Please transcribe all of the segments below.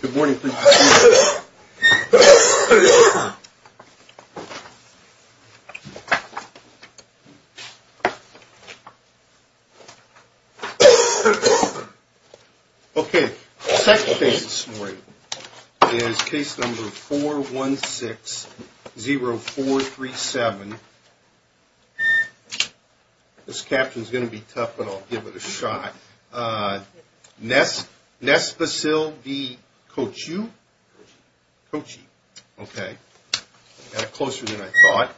Good morning, thank you. Okay, second case this morning is case number 416-0437. This caption is going to be tough, but I'll give it a shot. Nesvacil v. Kochiu. Okay, got it closer than I thought.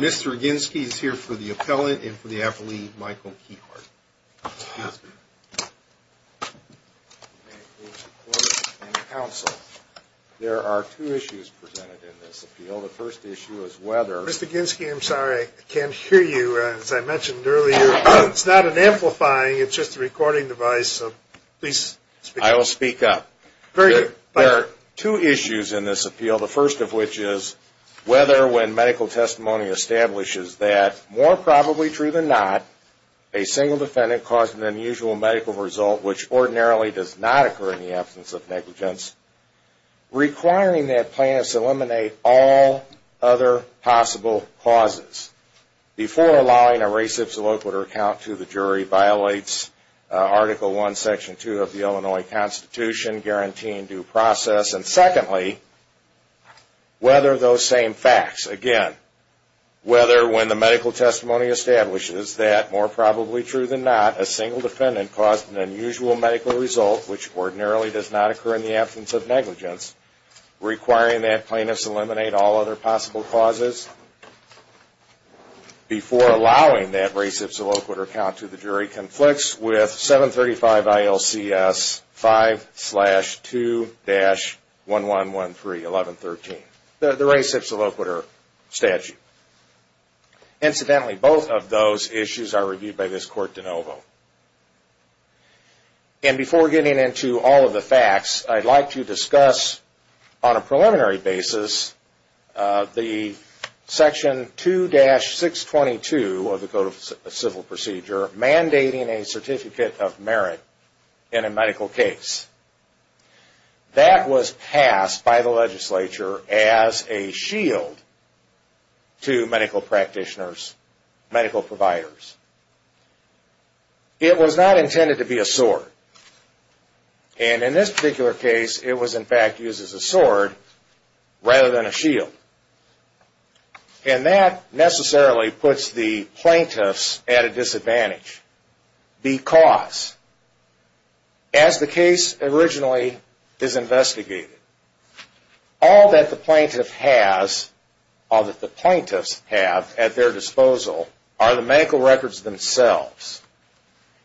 Mr. Ginski is here for the appellate and for the affiliate, Michael Keehart. There are two issues presented in this appeal. The first issue is whether... Mr. Ginski, I'm sorry, I can't hear you. As I mentioned earlier, it's not an amplifying, it's just a recording device, so please speak up. I will speak up. Very good. There are two issues in this appeal. The first of which is whether, when medical testimony establishes that, more probably true than not, a single defendant caused an unusual medical result, which ordinarily does not occur in the absence of negligence, requiring that plaintiffs eliminate all other possible causes before allowing a res ipsa loquitur account to the jury, violates Article I, Section 2 of the Illinois Constitution, guaranteeing due process. And secondly, whether those same facts, again, whether, when the medical testimony establishes that, more probably true than not, a single defendant caused an unusual medical result, which ordinarily does not occur in the absence of negligence, requiring that plaintiffs eliminate all other possible causes before allowing that res ipsa loquitur account to the jury, conflicts with 735 ILCS 5-2-1113, the res ipsa loquitur statute. Incidentally, both of those issues are reviewed by this court de novo. And before getting into all of the facts, I'd like to discuss, on a preliminary basis, the Section 2-622 of the Code of Civil Procedure, mandating a certificate of merit in a medical case. That was passed by the legislature as a shield to medical practitioners, medical providers. It was not intended to be a sword. And in this particular case, it was, in fact, used as a sword rather than a shield. And that necessarily puts the plaintiffs at a disadvantage. Because, as the case originally is investigated, all that the plaintiff has, all that the plaintiffs have at their disposal are the medical records themselves.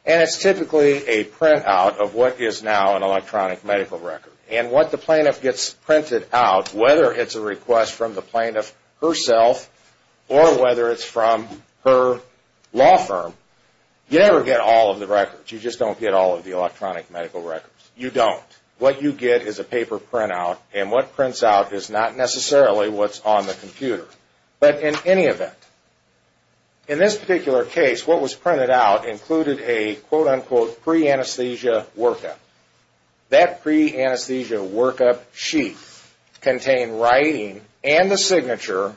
And it's typically a printout of what is now an electronic medical record. And what the plaintiff gets printed out, whether it's a request from the plaintiff herself or whether it's from her law firm, you never get all of the records. You just don't get all of the electronic medical records. You don't. What you get is a paper printout, and what prints out is not necessarily what's on the computer. But in any event, in this particular case, what was printed out included a, quote-unquote, pre-anesthesia workup. That pre-anesthesia workup sheet contained writing and the signature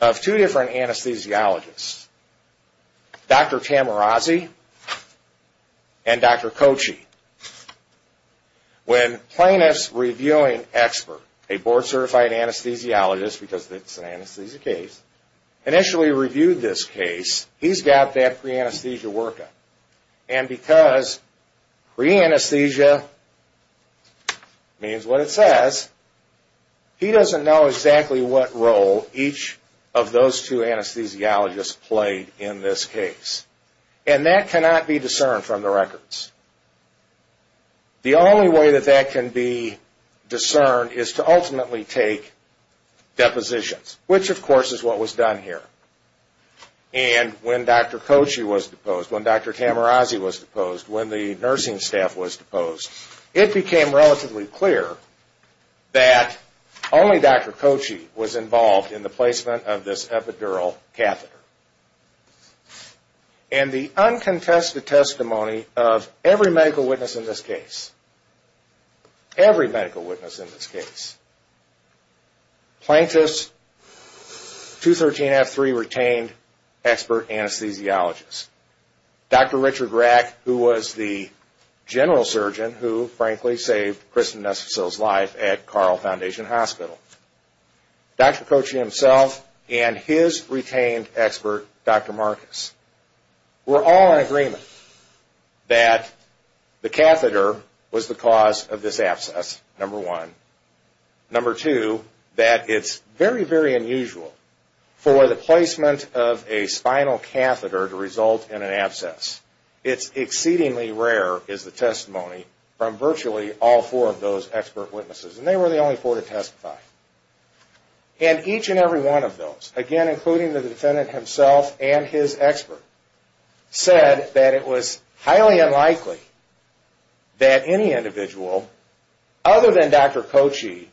of two different anesthesiologists, Dr. Tamarazzi and Dr. Kochi. When plaintiffs' reviewing expert, a board-certified anesthesiologist, because it's an anesthesia case, initially reviewed this case, he's got that pre-anesthesia workup. And because pre-anesthesia means what it says, he doesn't know exactly what role each of those two anesthesiologists played in this case. And that cannot be discerned from the records. The only way that that can be discerned is to ultimately take depositions, which, of course, is what was done here. And when Dr. Kochi was deposed, when Dr. Tamarazzi was deposed, when the nursing staff was deposed, it became relatively clear that only Dr. Kochi was involved in the placement of this epidural catheter. And the uncontested testimony of every medical witness in this case, every medical witness in this case, plaintiffs 213F3 retained expert anesthesiologists. Dr. Richard Rack, who was the general surgeon who, frankly, saved Kristen Nesfasil's life at Carl Foundation Hospital. Dr. Kochi himself and his retained expert, Dr. Marcus, were all in agreement that the catheter was the cause of this abscess, number one. Number two, that it's very, very unusual for the placement of a spinal catheter to result in an abscess. It's exceedingly rare, is the testimony from virtually all four of those expert witnesses. And they were the only four to testify. And each and every one of those, again, including the defendant himself and his expert, said that it was highly unlikely that any individual, other than Dr. Kochi,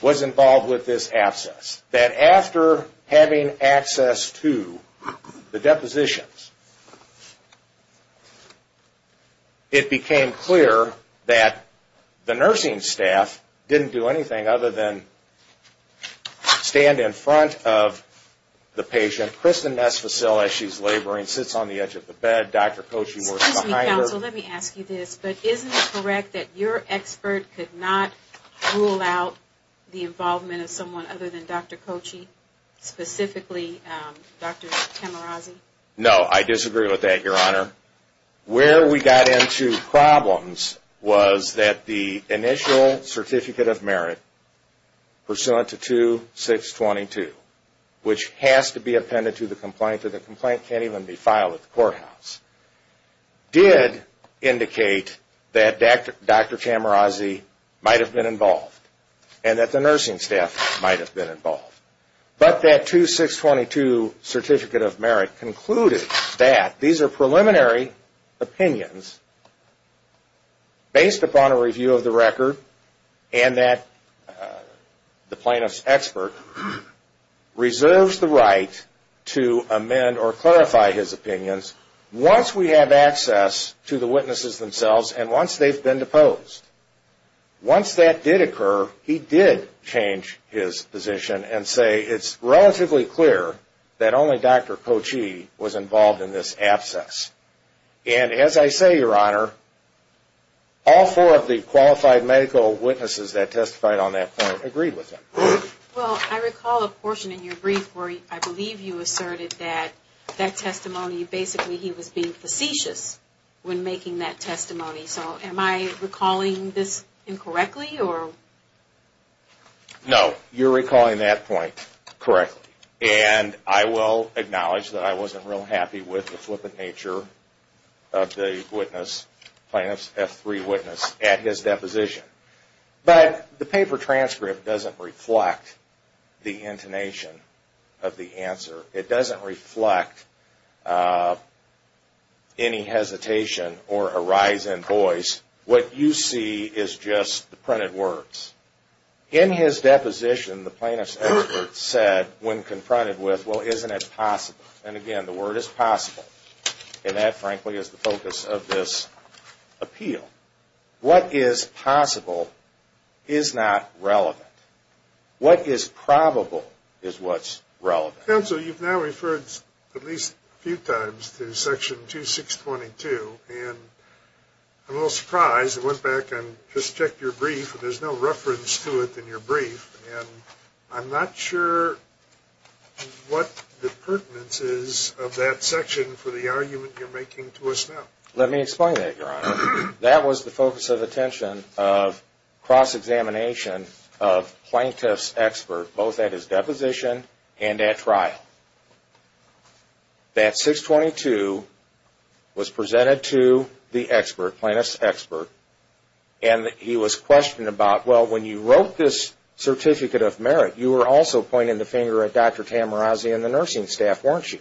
was involved with this abscess. That after having access to the depositions, it became clear that the nursing staff didn't do anything other than stand in front of the patient. Kristen Nesfasil, as she's laboring, sits on the edge of the bed. Dr. Kochi works behind her. Excuse me, counsel, let me ask you this. But isn't it correct that your expert could not rule out the involvement of someone other than Dr. Kochi, specifically Dr. Tamarazzi? No, I disagree with that, Your Honor. Where we got into problems was that the initial Certificate of Merit, pursuant to 2622, which has to be appended to the complaint, or the complaint can't even be filed at the courthouse, did indicate that Dr. Tamarazzi might have been involved, and that the nursing staff might have been involved. But that 2622 Certificate of Merit concluded that these are preliminary opinions based upon a review of the record, and that the plaintiff's expert reserves the right to amend or clarify his opinions once we have access to the witnesses themselves and once they've been deposed. Once that did occur, he did change his position and say, it's relatively clear that only Dr. Kochi was involved in this abscess. And as I say, Your Honor, all four of the qualified medical witnesses that testified on that point agreed with him. Well, I recall a portion in your brief where I believe you asserted that that testimony, basically he was being facetious when making that testimony. So am I recalling this incorrectly? No, you're recalling that point correctly. And I will acknowledge that I wasn't real happy with the flippant nature of the witness, plaintiff's F3 witness, at his deposition. But the paper transcript doesn't reflect the intonation of the answer. It doesn't reflect any hesitation or a rise in voice. What you see is just the printed words. In his deposition, the plaintiff's expert said, when confronted with, well, isn't it possible? And again, the word is possible. And that, frankly, is the focus of this appeal. What is possible is not relevant. What is probable is what's relevant. Counsel, you've now referred at least a few times to Section 2622. And I'm a little surprised. I went back and just checked your brief, and there's no reference to it in your brief. And I'm not sure what the pertinence is of that section for the argument you're making to us now. Let me explain that, Your Honor. That was the focus of attention of cross-examination of plaintiff's expert, both at his deposition and at trial. That 622 was presented to the expert, plaintiff's expert, and he was questioned about, well, when you wrote this certificate of merit, you were also pointing the finger at Dr. Tamarazzi and the nursing staff, weren't you?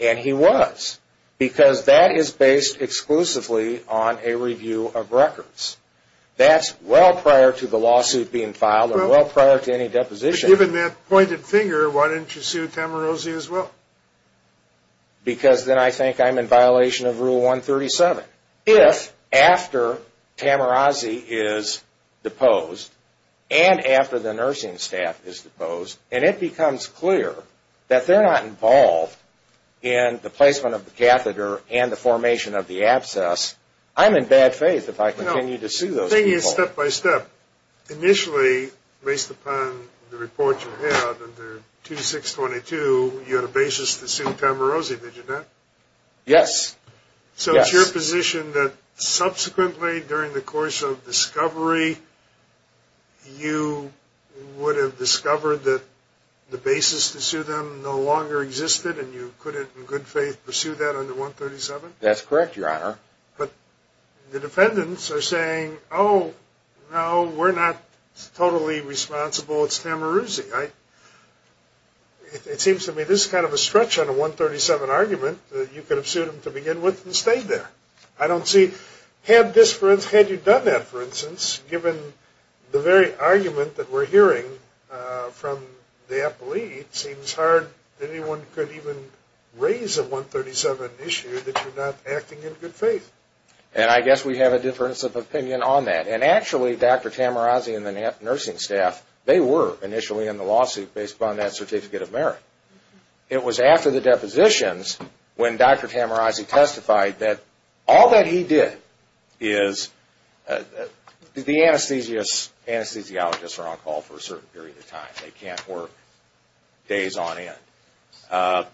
And he was, because that is based exclusively on a review of records. That's well prior to the lawsuit being filed or well prior to any deposition. But given that pointed finger, why didn't you sue Tamarazzi as well? Because then I think I'm in violation of Rule 137. If, after Tamarazzi is deposed, and after the nursing staff is deposed, and it becomes clear that they're not involved in the placement of the catheter and the formation of the abscess, I'm in bad faith if I continue to sue those people. The thing is, step by step, initially, based upon the report you had under 2622, you had a basis to sue Tamarazzi, did you not? Yes. So it's your position that subsequently, during the course of discovery, you would have discovered that the basis to sue them no longer existed, and you couldn't in good faith pursue that under 137? That's correct, Your Honor. But the defendants are saying, oh, no, we're not totally responsible, it's Tamarazzi. It seems to me this is kind of a stretch on a 137 argument that you could have sued them to begin with and stayed there. I don't see, had you done that, for instance, given the very argument that we're hearing from the appellee, it seems hard that anyone could even raise a 137 issue that you're not acting in good faith. And I guess we have a difference of opinion on that. And actually, Dr. Tamarazzi and the nursing staff, they were initially in the lawsuit based upon that certificate of merit. It was after the depositions when Dr. Tamarazzi testified that all that he did is, the anesthesiologists are on call for a certain period of time, they can't work days on end.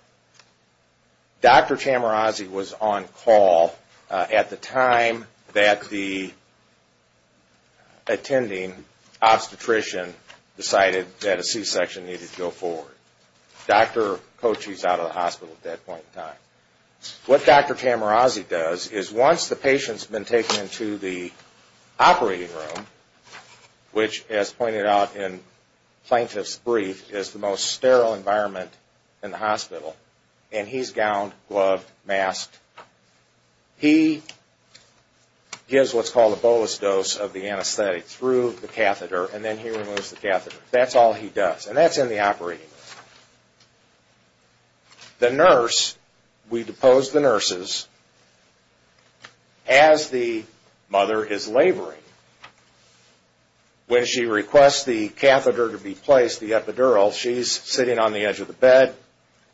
Dr. Tamarazzi was on call at the time that the attending obstetrician decided that a C-section needed to go forward. Dr. Kochi's out of the hospital at that point in time. What Dr. Tamarazzi does is once the patient's been taken into the operating room, which, as pointed out in Plaintiff's brief, is the most sterile environment in the hospital, and he's gowned, gloved, masked. He gives what's called a bolus dose of the anesthetic through the catheter, and then he removes the catheter. That's all he does, and that's in the operating room. The nurse, we depose the nurses as the mother is laboring. When she requests the catheter to be placed, the epidural, she's sitting on the edge of the bed,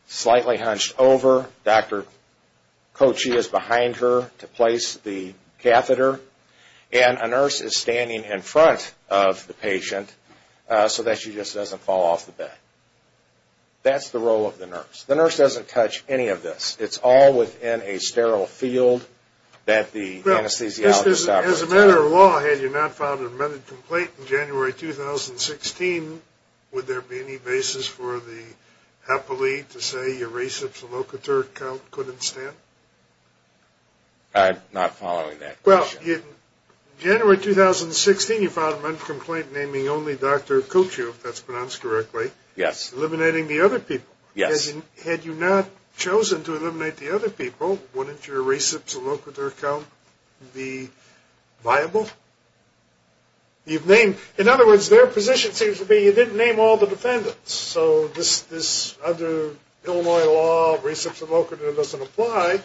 slightly hunched over, Dr. Kochi is behind her to place the catheter, and a nurse is standing in front of the patient so that she just doesn't fall off the bed. That's the role of the nurse. The nurse doesn't touch any of this. It's all within a sterile field that the anesthesiologist operates in. As a matter of law, had you not filed an amended complaint in January 2016, would there be any basis for the HEPA lead to say your reciprocal catheter count couldn't stand? I'm not following that question. Well, in January 2016, you filed an amended complaint naming only Dr. Kochi, if that's pronounced correctly. Yes. Eliminating the other people. Yes. Had you not chosen to eliminate the other people, wouldn't your reciprocal count be viable? In other words, their position seems to be you didn't name all the defendants, so this under Illinois law reciprocal doesn't apply,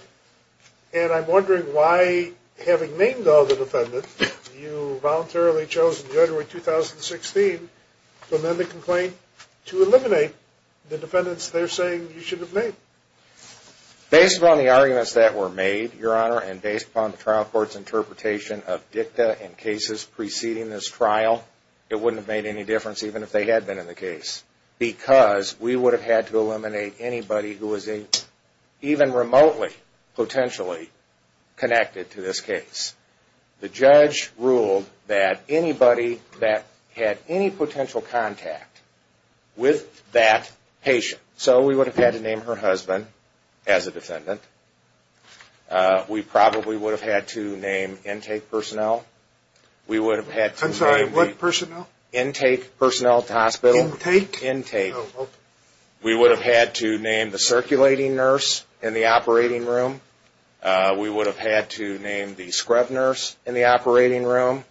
and I'm wondering why, having named all the defendants, you voluntarily chose in January 2016 to amend the complaint to eliminate the defendants they're saying you should have named. Based upon the arguments that were made, Your Honor, and based upon the trial court's interpretation of dicta and cases preceding this trial, it wouldn't have made any difference even if they had been in the case because we would have had to eliminate anybody who was even remotely potentially connected to this case. The judge ruled that anybody that had any potential contact with that patient, so we would have had to name her husband as a defendant. We probably would have had to name intake personnel. I'm sorry, what personnel? Intake personnel at the hospital. Intake? Intake. We would have had to name the circulating nurse in the operating room. We would have had to name the scrub nurse in the operating room.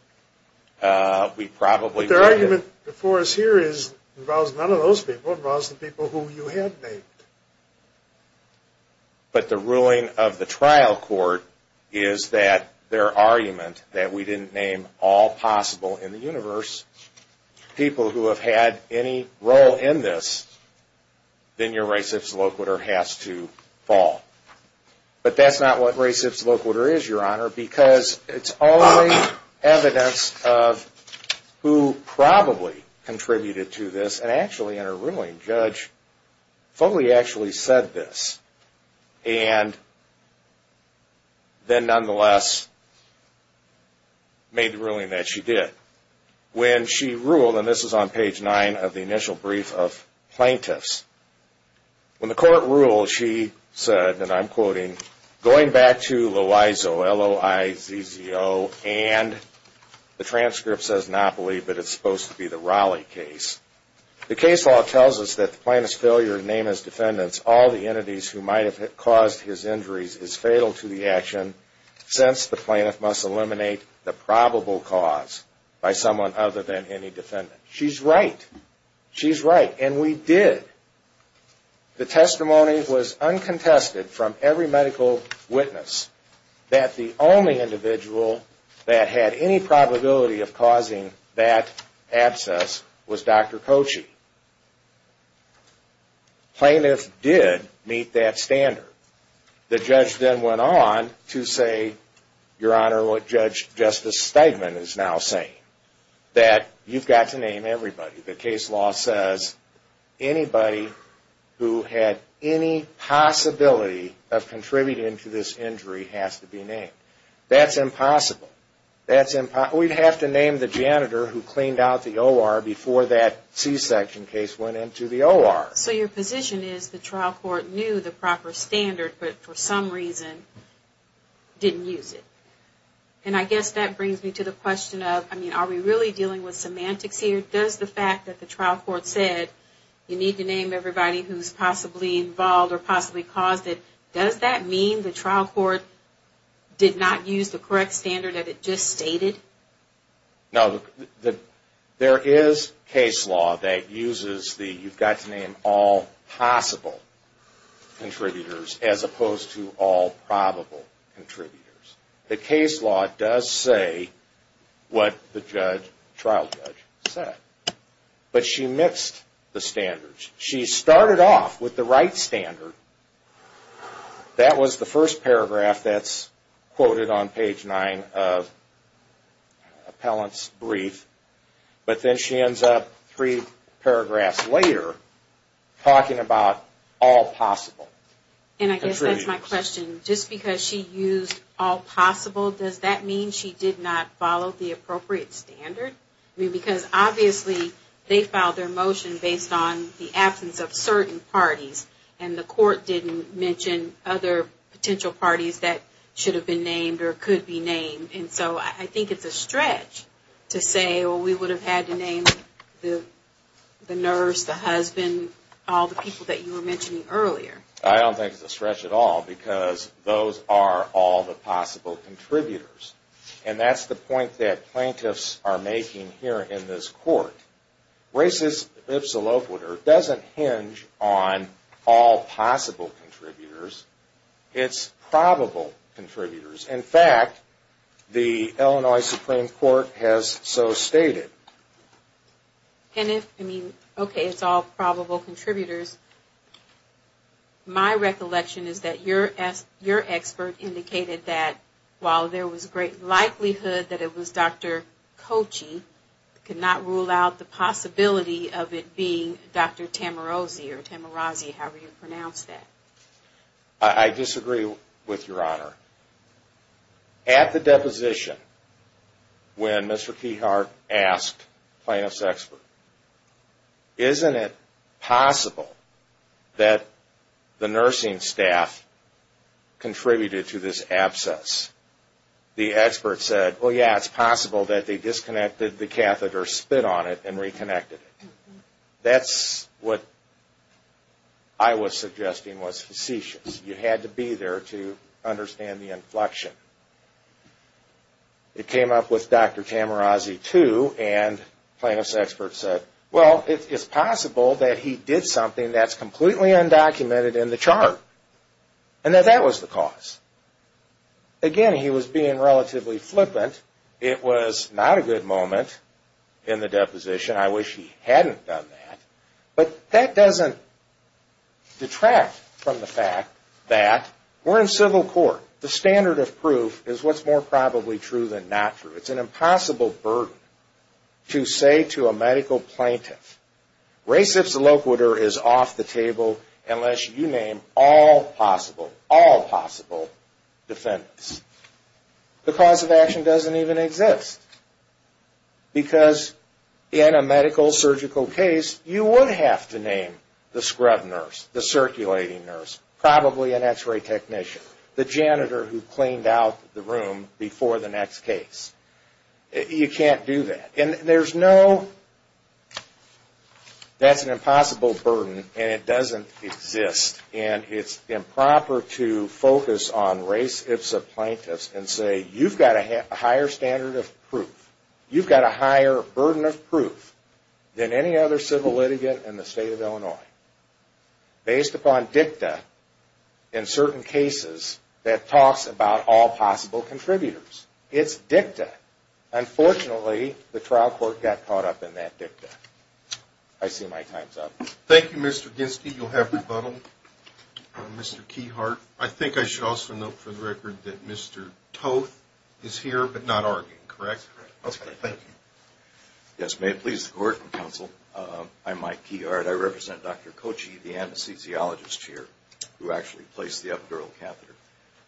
The argument before us here involves none of those people. It involves the people who you had named. But the ruling of the trial court is that their argument, that we didn't name all possible in the universe people who have had any role in this, then your res ips loquitur has to fall. But that's not what res ips loquitur is, Your Honor, because it's only evidence of who probably contributed to this, and actually in her ruling, Judge Foley actually said this and then nonetheless made the ruling that she did. When she ruled, and this is on page 9 of the initial brief of plaintiffs, when the court ruled, she said, and I'm quoting, Going back to Loizzo, L-O-I-Z-Z-O, and the transcript says Napoli, but it's supposed to be the Raleigh case. The case law tells us that the plaintiff's failure to name his defendants, all the entities who might have caused his injuries, is fatal to the action, since the plaintiff must eliminate the probable cause by someone other than any defendant. She's right. She's right, and we did. The testimony was uncontested from every medical witness that the only individual that had any probability of causing that abscess was Dr. Kochi. Plaintiffs did meet that standard. The judge then went on to say, Your Honor, what Judge Justice Steigman is now saying, that you've got to name everybody. The case law says anybody who had any possibility of contributing to this injury has to be named. That's impossible. We'd have to name the janitor who cleaned out the O.R. before that C-section case went into the O.R. So your position is the trial court knew the proper standard, but for some reason didn't use it. And I guess that brings me to the question of, I mean, are we really dealing with semantics here? Does the fact that the trial court said, you need to name everybody who's possibly involved or possibly caused it, does that mean the trial court did not use the correct standard that it just stated? No. There is case law that uses the, you've got to name all possible contributors as opposed to all probable contributors. The case law does say what the trial judge said. But she mixed the standards. She started off with the right standard. That was the first paragraph that's quoted on page nine of Appellant's brief. But then she ends up three paragraphs later talking about all possible contributors. And I guess that's my question. Just because she used all possible, does that mean she did not follow the appropriate standard? I mean, because obviously they filed their motion based on the absence of certain parties, and the court didn't mention other potential parties that should have been named or could be named. And so I think it's a stretch to say, well, we would have had to name the nurse, the husband, and all the people that you were mentioning earlier. I don't think it's a stretch at all because those are all the possible contributors. And that's the point that plaintiffs are making here in this court. Racist ipsa loquitur doesn't hinge on all possible contributors. It's probable contributors. In fact, the Illinois Supreme Court has so stated. And if, I mean, okay, it's all probable contributors, my recollection is that your expert indicated that while there was great likelihood that it was Dr. Kochi, could not rule out the possibility of it being Dr. Tamarazzi, however you pronounce that. I disagree with Your Honor. At the deposition, when Mr. Keyhart asked plaintiff's expert, isn't it possible that the nursing staff contributed to this abscess, the expert said, well, yeah, it's possible that they disconnected the catheter, spit on it, and reconnected it. That's what I was suggesting was facetious. You had to be there to understand the inflection. It came up with Dr. Tamarazzi, too, and plaintiff's expert said, well, it's possible that he did something that's completely undocumented in the chart and that that was the cause. Again, he was being relatively flippant. It was not a good moment in the deposition. I wish he hadn't done that. But that doesn't detract from the fact that we're in civil court. The standard of proof is what's more probably true than not true. It's an impossible burden to say to a medical plaintiff, res ipsa loquitur is off the table unless you name all possible, all possible defendants. The cause of action doesn't even exist. Because in a medical surgical case, you would have to name the scrub nurse, the circulating nurse, probably an x-ray technician, the janitor who cleaned out the room before the next case. You can't do that. And there's no, that's an impossible burden and it doesn't exist. And it's improper to focus on res ipsa plaintiffs and say you've got a higher standard of proof. You've got a higher burden of proof than any other civil litigant in the state of Illinois. Based upon dicta in certain cases that talks about all possible contributors. It's dicta. Unfortunately, the trial court got caught up in that dicta. I see my time's up. Thank you, Mr. Ginsky. You'll have rebuttal. Mr. Keyhart, I think I should also note for the record that Mr. Toth is here but not arguing, correct? That's correct. Thank you. Yes, may it please the court and counsel. I'm Mike Keyhart. I represent Dr. Kochi, the anesthesiologist here who actually placed the epidural catheter.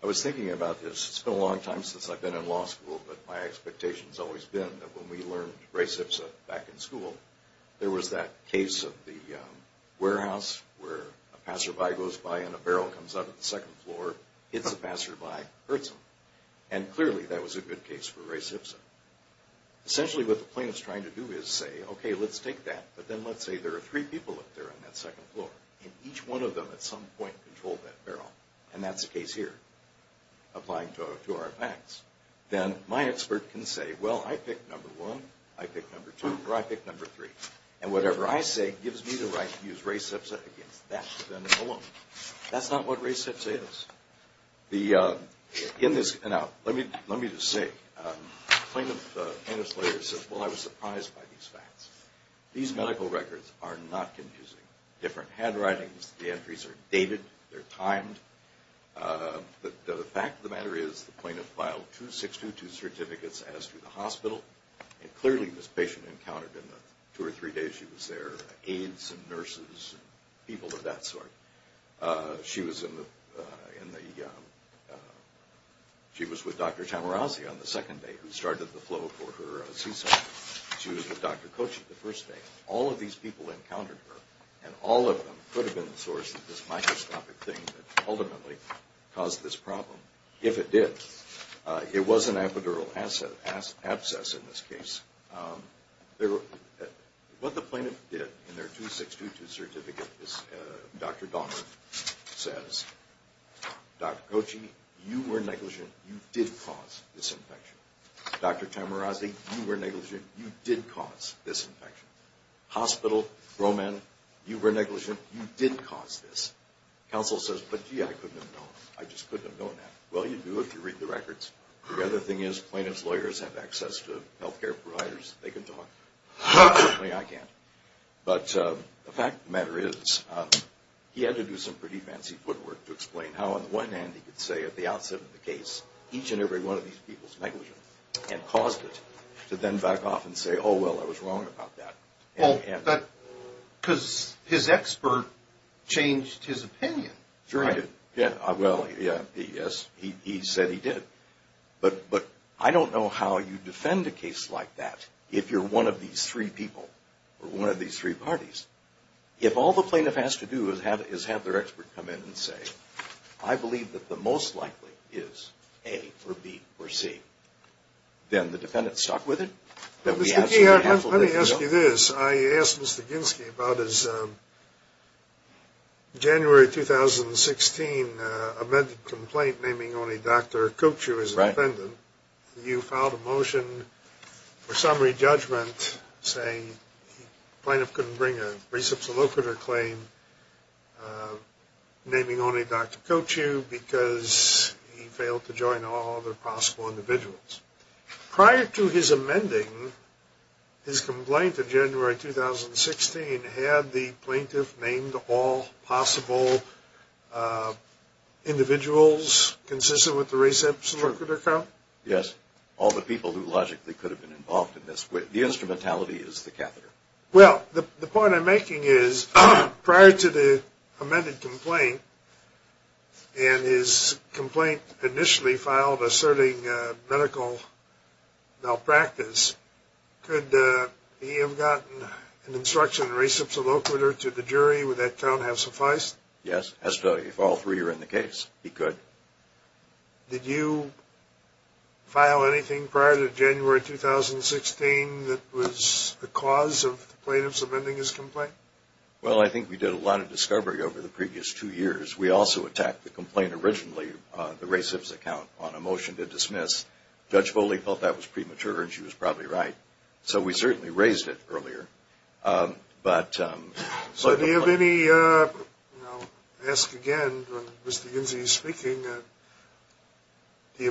I was thinking about this. It's been a long time since I've been in law school, but my expectation has always been that when we learned res ipsa back in school, there was that case of the warehouse where a passerby goes by and a barrel comes out of the second floor, hits the passerby, hurts him. And clearly that was a good case for res ipsa. Essentially what the plaintiff's trying to do is say, okay, let's take that, but then let's say there are three people up there on that second floor and each one of them at some point controlled that barrel, and that's the case here, applying to our facts. Then my expert can say, well, I picked number one, I picked number two, or I picked number three, and whatever I say gives me the right to use res ipsa against that defendant alone. That's not what res ipsa is. Now, let me just say, the plaintiff and his lawyer said, well, I was surprised by these facts. These medical records are not confusing. Different handwritings, the entries are dated, they're timed. But the fact of the matter is the plaintiff filed two 622 certificates as to the hospital. And clearly this patient encountered in the two or three days she was there aides and nurses and people of that sort. She was with Dr. Tamarazzi on the second day, who started the flow for her C-section. She was with Dr. Kochi the first day. All of these people encountered her, and all of them could have been the source of this microscopic thing that ultimately caused this problem, if it did. It was an epidural abscess in this case. What the plaintiff did in their two 622 certificate is Dr. Donner says, Dr. Kochi, you were negligent. You did cause this infection. Dr. Tamarazzi, you were negligent. You did cause this infection. Hospital, Roman, you were negligent. You did cause this. Counsel says, but gee, I couldn't have known. I just couldn't have known that. Well, you do if you read the records. The other thing is plaintiff's lawyers have access to health care providers. They can talk. Certainly I can't. But the fact of the matter is he had to do some pretty fancy footwork to explain how on the one hand he could say at the outset of the case each and every one of these people is negligent and caused it to then back off and say, oh, well, I was wrong about that. Because his expert changed his opinion. Sure he did. Well, yes, he said he did. But I don't know how you defend a case like that if you're one of these three people or one of these three parties. If all the plaintiff has to do is have their expert come in and say, I believe that the most likely is A or B or C, then the defendant's stuck with it. Let me ask you this. I asked Mr. Ginsky about his January 2016 amended complaint naming only Dr. Kochu as the defendant. You filed a motion for summary judgment saying the plaintiff couldn't bring a Dr. Kochu because he failed to join all other possible individuals. Prior to his amending his complaint in January 2016, had the plaintiff named all possible individuals consistent with the reception record account? Yes. All the people who logically could have been involved in this. The instrumentality is the catheter. Well, the point I'm making is prior to the amended complaint and his complaint initially filed asserting medical malpractice, could he have gotten an instruction receptional to the jury? Would that count have sufficed? Yes, if all three were in the case, he could. Did you file anything prior to January 2016 that was the cause of the plaintiff's amending his complaint? Well, I think we did a lot of discovery over the previous two years. We also attacked the complaint originally, the reception account, on a motion to dismiss. Judge Foley thought that was premature, and she was probably right. So we certainly raised it earlier. So do you have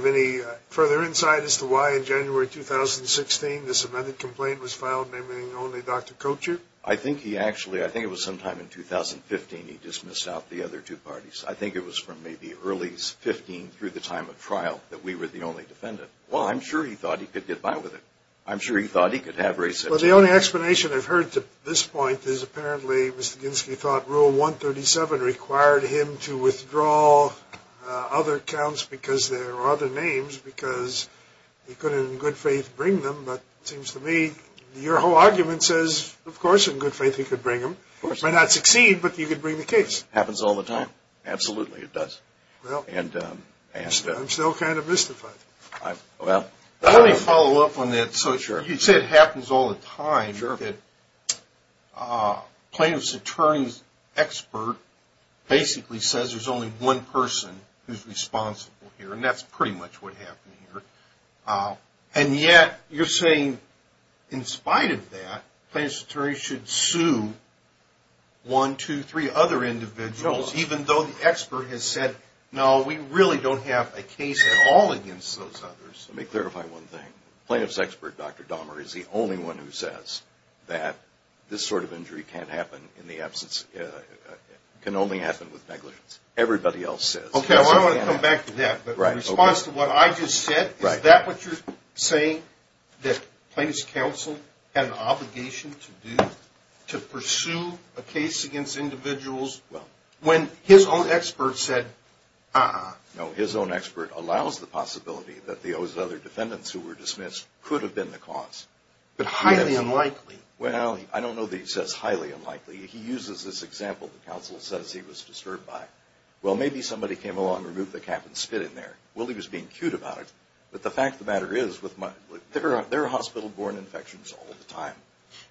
any further insight as to why in January 2016 this amended complaint was filed naming only Dr. Kocher? I think it was sometime in 2015 he dismissed out the other two parties. I think it was from maybe early 2015 through the time of trial that we were the only defendant. Well, I'm sure he thought he could get by with it. I'm sure he thought he could have reception. Well, the only explanation I've heard to this point is apparently Mr. Ginsky thought Rule 137 required him to withdraw other counts because there were other names because he couldn't in good faith bring them. But it seems to me your whole argument says, of course, in good faith he could bring them. He might not succeed, but he could bring the case. Happens all the time. Absolutely it does. I'm still kind of mystified. Let me follow up on that. So you said happens all the time that plaintiff's attorney's expert basically says there's only one person who's responsible here, and that's pretty much what happened here. And yet you're saying in spite of that, plaintiff's attorney should sue one, two, three other individuals even though the expert has said, no, we really don't have a case at all against those others. Let me clarify one thing. Plaintiff's expert, Dr. Dahmer, is the only one who says that this sort of injury can only happen with negligence. Everybody else says. Okay, I want to come back to that. But in response to what I just said, is that what you're saying, that plaintiff's counsel had an obligation to do to pursue a case against individuals when his own expert said, uh-uh? No, his own expert allows the possibility that those other defendants who were dismissed could have been the cause. But highly unlikely. Well, I don't know that he says highly unlikely. He uses this example the counsel says he was disturbed by. Well, maybe somebody came along and removed the cap and spit in there. Willie was being cute about it. But the fact of the matter is, there are hospital-borne infections all the time.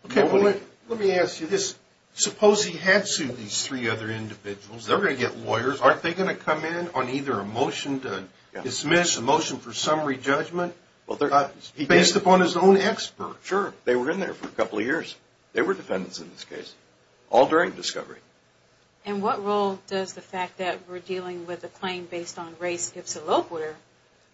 Okay, let me ask you this. Suppose he had sued these three other individuals. They're going to get lawyers. Aren't they going to come in on either a motion to dismiss, a motion for summary judgment? Based upon his own expert. Sure. They were in there for a couple of years. They were defendants in this case. All during discovery. And what role does the fact that we're dealing with a claim based on race give to Lopewater?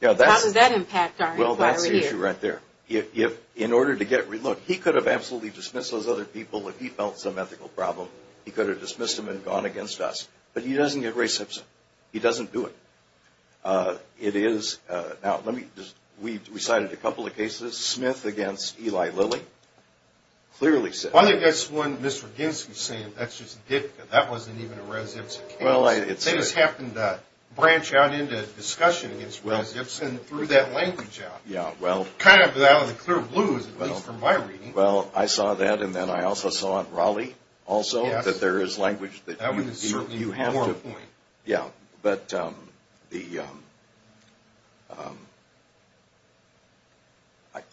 How does that impact our inquiry here? Well, that's the issue right there. If, in order to get, look, he could have absolutely dismissed those other people if he felt some ethical problem. He could have dismissed them and gone against us. But he doesn't get res ipsa. He doesn't do it. It is, now let me, we cited a couple of cases. Smith against Eli Lilly. Clearly said that. I think that's one Mr. Ginsky's saying, that's just a dip. That wasn't even a res ipsa case. It just happened to branch out into discussion against res ipsa and threw that language out. Yeah, well. Kind of out of the clear blue, at least from my reading. Well, I saw that. And then I also saw at Raleigh also. Yes. That there is language that you have to. That would certainly be one point. Yeah. But the,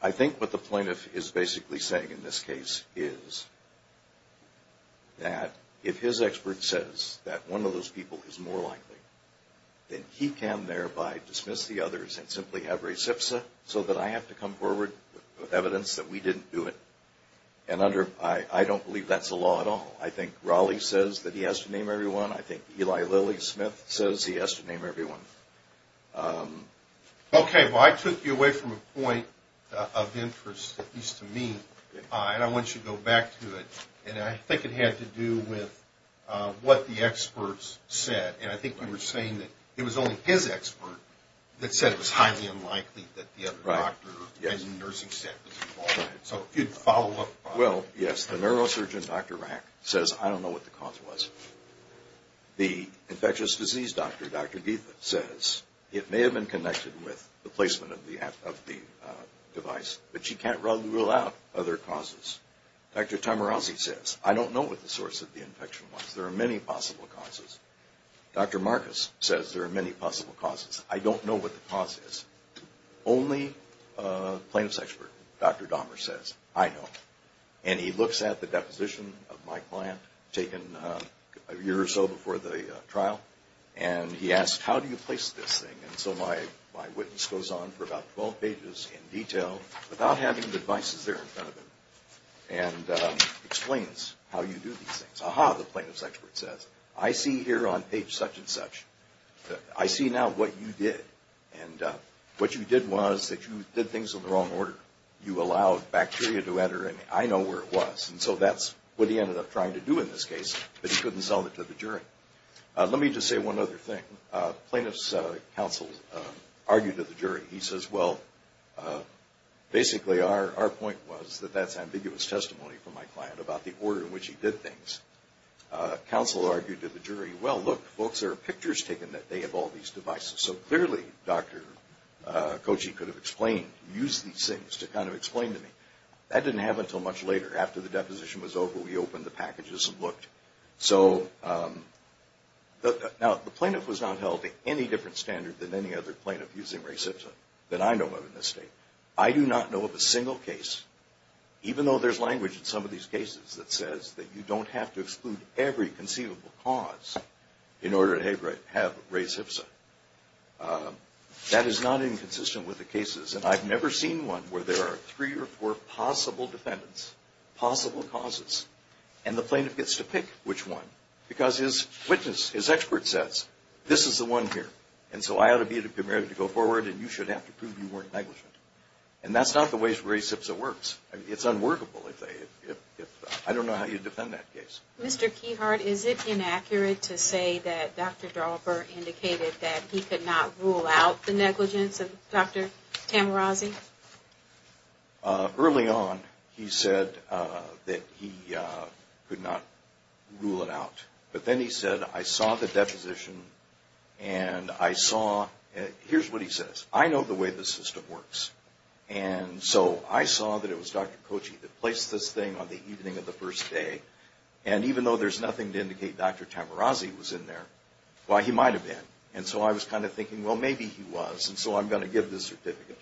I think what the plaintiff is basically saying in this case is that if his expert says that one of those people is more likely, then he can thereby dismiss the others and simply have res ipsa. So that I have to come forward with evidence that we didn't do it. And under, I don't believe that's a law at all. I think Raleigh says that he has to name everyone. I think Eli Lilly, Smith says he has to name everyone. Okay. Well, I took you away from a point of interest, at least to me. And I want you to go back to it. And I think it had to do with what the experts said. And I think you were saying that it was only his expert that said it was highly unlikely that the other doctor and the nursing staff was involved. So if you'd follow up. Well, yes. The neurosurgeon, Dr. Rack, says, I don't know what the cause was. The infectious disease doctor, Dr. Geetha, says it may have been connected with the placement of the device, but she can't rule out other causes. Dr. Tamarazzi says, I don't know what the source of the infection was. There are many possible causes. Dr. Marcus says there are many possible causes. I don't know what the cause is. Only a plaintiff's expert, Dr. Dahmer, says, I know. And he looks at the deposition of my client taken a year or so before the trial, and he asks, how do you place this thing? And so my witness goes on for about 12 pages in detail without having the devices there in front of him and explains how you do these things. Aha, the plaintiff's expert says, I see here on page such and such. I see now what you did, and what you did was that you did things in the wrong order. You allowed bacteria to enter, and I know where it was. And so that's what he ended up trying to do in this case, but he couldn't sell it to the jury. Let me just say one other thing. Plaintiff's counsel argued to the jury. He says, well, basically our point was that that's ambiguous testimony from my client about the order in which he did things. Counsel argued to the jury, well, look, folks, there are pictures taken that they have all these devices. So clearly Dr. Kochi could have explained, used these things to kind of explain to me. That didn't happen until much later. After the deposition was over, we opened the packages and looked. So now the plaintiff was not held to any different standard than any other plaintiff using RayCipta that I know of in this state. I do not know of a single case, even though there's language in some of these cases that says that you don't have to exclude every conceivable cause in order to have RayCipta. That is not inconsistent with the cases, and I've never seen one where there are three or four possible defendants, possible causes, and the plaintiff gets to pick which one because his witness, his expert says, this is the one here. And so I ought to be prepared to go forward, and you should have to prove you weren't negligent. And that's not the way RayCipta works. It's unworkable. I don't know how you defend that case. Mr. Keyhart, is it inaccurate to say that Dr. Dauber indicated that he could not rule out the negligence of Dr. Tamarazzi? Early on, he said that he could not rule it out. But then he said, I saw the deposition, and I saw – here's what he says. I know the way the system works. And so I saw that it was Dr. Kochi that placed this thing on the evening of the first day, and even though there's nothing to indicate Dr. Tamarazzi was in there, well, he might have been. And so I was kind of thinking, well, maybe he was, and so I'm going to give this certificate.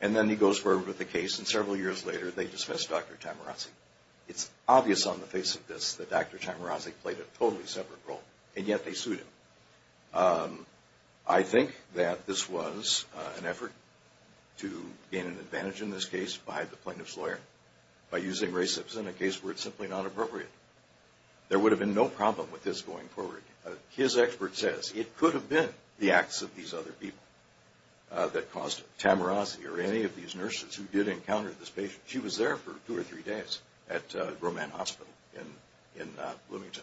And then he goes forward with the case, and several years later, they dismiss Dr. Tamarazzi. It's obvious on the face of this that Dr. Tamarazzi played a totally separate role, and yet they sued him. I think that this was an effort to gain an advantage in this case by the plaintiff's lawyer, by using RayCipta in a case where it's simply not appropriate. There would have been no problem with this going forward. His expert says it could have been the acts of these other people that caused Tamarazzi or any of these nurses who did encounter this patient. She was there for two or three days at Roman Hospital in Bloomington.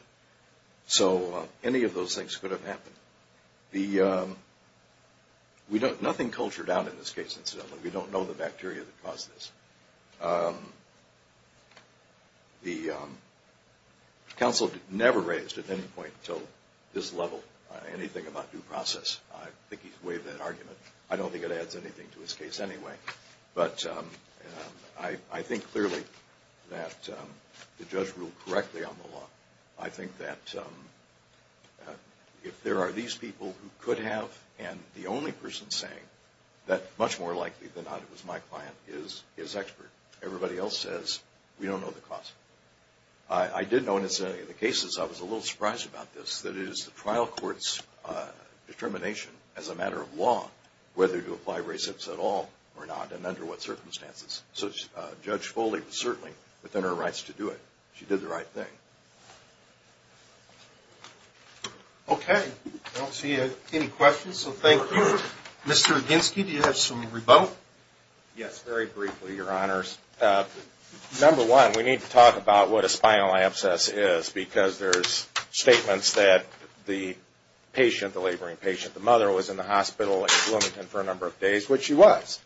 So any of those things could have happened. Nothing cultured out in this case, incidentally. We don't know the bacteria that caused this. The counsel never raised at any point until this level anything about due process. I think he's waived that argument. I don't think it adds anything to his case anyway. But I think clearly that the judge ruled correctly on the law. I think that if there are these people who could have, and the only person saying that much more likely than not it was my client, is his expert. Everybody else says, we don't know the cause. I did notice in the cases, I was a little surprised about this, that it is the trial court's determination as a matter of law whether to apply race-ups at all or not and under what circumstances. So Judge Foley was certainly within her rights to do it. She did the right thing. Okay. I don't see any questions, so thank you. Mr. Oginski, do you have some rebuttal? Yes, very briefly, Your Honors. Number one, we need to talk about what a spinal abscess is because there's statements that the patient, the laboring patient, the mother was in the hospital in Bloomington for a number of days, which she was.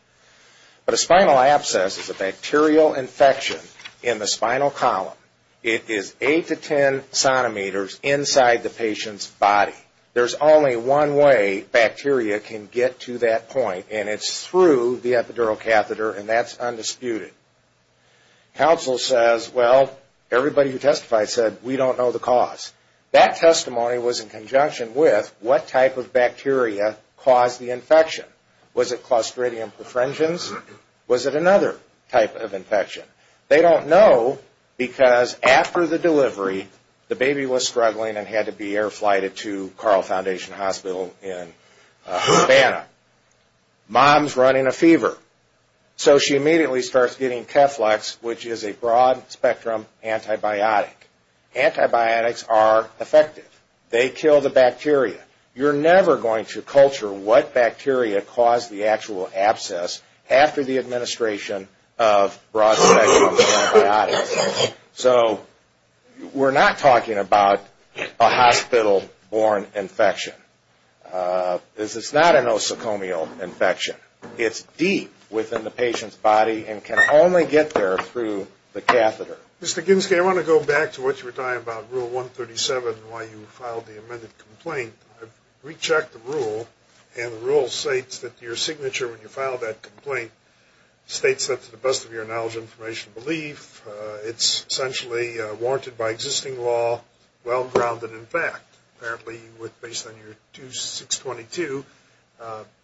But a spinal abscess is a bacterial infection in the spinal column. It is 8 to 10 sonometers inside the patient's body. There's only one way bacteria can get to that point, and it's through the epidural catheter, and that's undisputed. Counsel says, well, everybody who testified said, we don't know the cause. That testimony was in conjunction with what type of bacteria caused the infection. Was it Clostridium perfringens? Was it another type of infection? They don't know because after the delivery, the baby was struggling and had to be air-flighted to Carl Foundation Hospital in Havana. Mom's running a fever, so she immediately starts getting Keflex, which is a broad-spectrum antibiotic. Antibiotics are effective. They kill the bacteria. You're never going to culture what bacteria caused the actual abscess after the administration of broad-spectrum antibiotics. So we're not talking about a hospital-born infection. This is not an osacomial infection. It's deep within the patient's body and can only get there through the catheter. Mr. Ginsky, I want to go back to what you were telling about Rule 137 and why you filed the amended complaint. I've rechecked the rule, and the rule states that your signature when you filed that complaint states that, to the best of your knowledge, information, and belief, it's essentially warranted by existing law, well-grounded in fact. Apparently, based on your 2622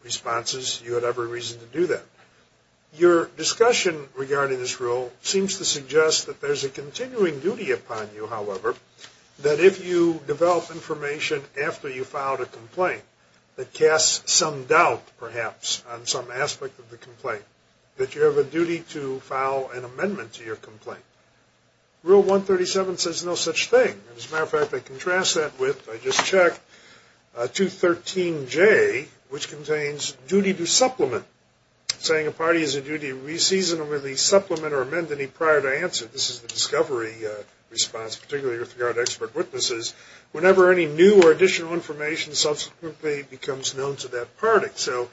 responses, you had every reason to do that. Your discussion regarding this rule seems to suggest that there's a continuing duty upon you, however, that if you develop information after you filed a complaint that casts some doubt, perhaps, on some aspect of the complaint, that you have a duty to file an amendment to your complaint. Rule 137 says no such thing. As a matter of fact, I contrast that with, I just checked, 213J, which contains duty to supplement, saying a party has a duty to re-season, release, supplement, or amend any prior to answer. This is the discovery response, particularly with regard to expert witnesses. Whenever any new or additional information subsequently becomes known to that party. So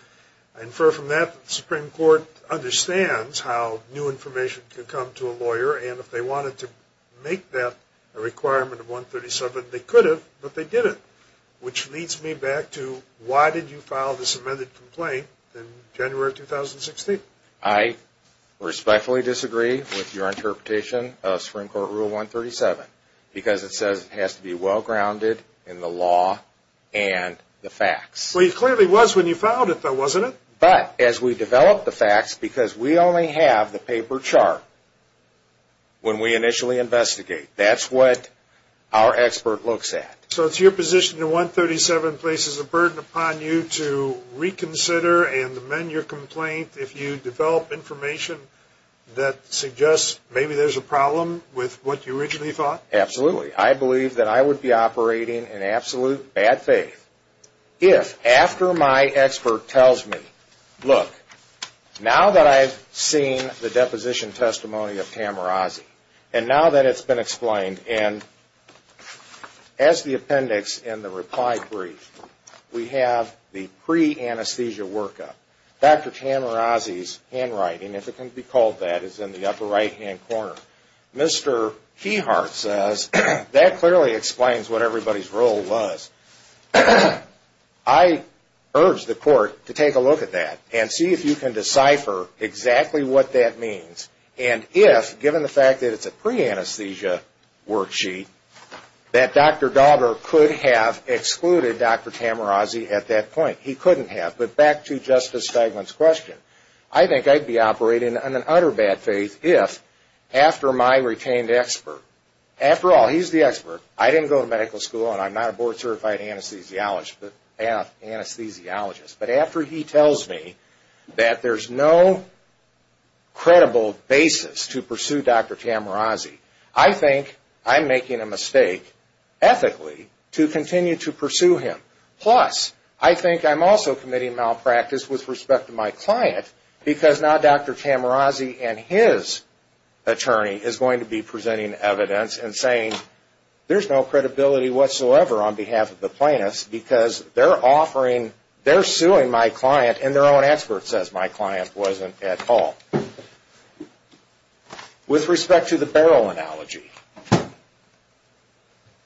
I infer from that that the Supreme Court understands how new information can come to a lawyer, and if they wanted to make that a requirement of 137, they could have, but they didn't. Which leads me back to, why did you file this amended complaint in January 2016? I respectfully disagree with your interpretation of Supreme Court Rule 137, because it says it has to be well-grounded in the law and the facts. Well, it clearly was when you filed it, though, wasn't it? But, as we develop the facts, because we only have the paper chart when we initially investigate, that's what our expert looks at. So it's your position that 137 places a burden upon you to reconsider and amend your complaint if you develop information that suggests maybe there's a problem with what you originally thought? Absolutely. I believe that I would be operating in absolute bad faith if, after my expert tells me, look, now that I've seen the deposition testimony of Tamirazi, and now that it's been explained, and as the appendix in the reply brief, we have the pre-anesthesia workup. Dr. Tamirazi's handwriting, if it can be called that, is in the upper right-hand corner. Mr. Keyhart says that clearly explains what everybody's role was. I urge the Court to take a look at that and see if you can decipher exactly what that means, and if, given the fact that it's a pre-anesthesia worksheet, that Dr. Daugherty could have excluded Dr. Tamirazi at that point. He couldn't have, but back to Justice Stegman's question. I think I'd be operating in an utter bad faith if, after my retained expert, after all, he's the expert, I didn't go to medical school, and I'm not a board-certified anesthesiologist, but after he tells me that there's no credible basis to pursue Dr. Tamirazi, I think I'm making a mistake, ethically, to continue to pursue him. Plus, I think I'm also committing malpractice with respect to my client, because now Dr. Tamirazi and his attorney is going to be presenting evidence and saying, there's no credibility whatsoever on behalf of the plaintiffs, because they're suing my client, and their own expert says my client wasn't at all. With respect to the barrel analogy,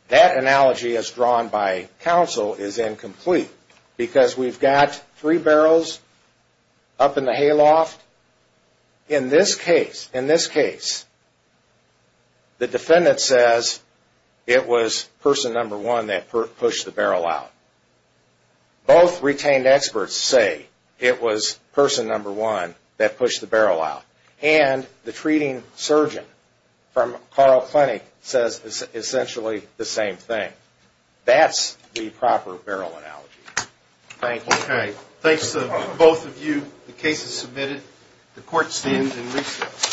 that analogy, as drawn by counsel, is incomplete, because we've got three barrels up in the hayloft. In this case, the defendant says it was person number one that pushed the barrel out. Both retained experts say it was person number one that pushed the barrel out, and the treating surgeon from Carl Clinic says essentially the same thing. That's the proper barrel analogy. Thank you. Thanks to both of you. The case is submitted. The court stands in recess.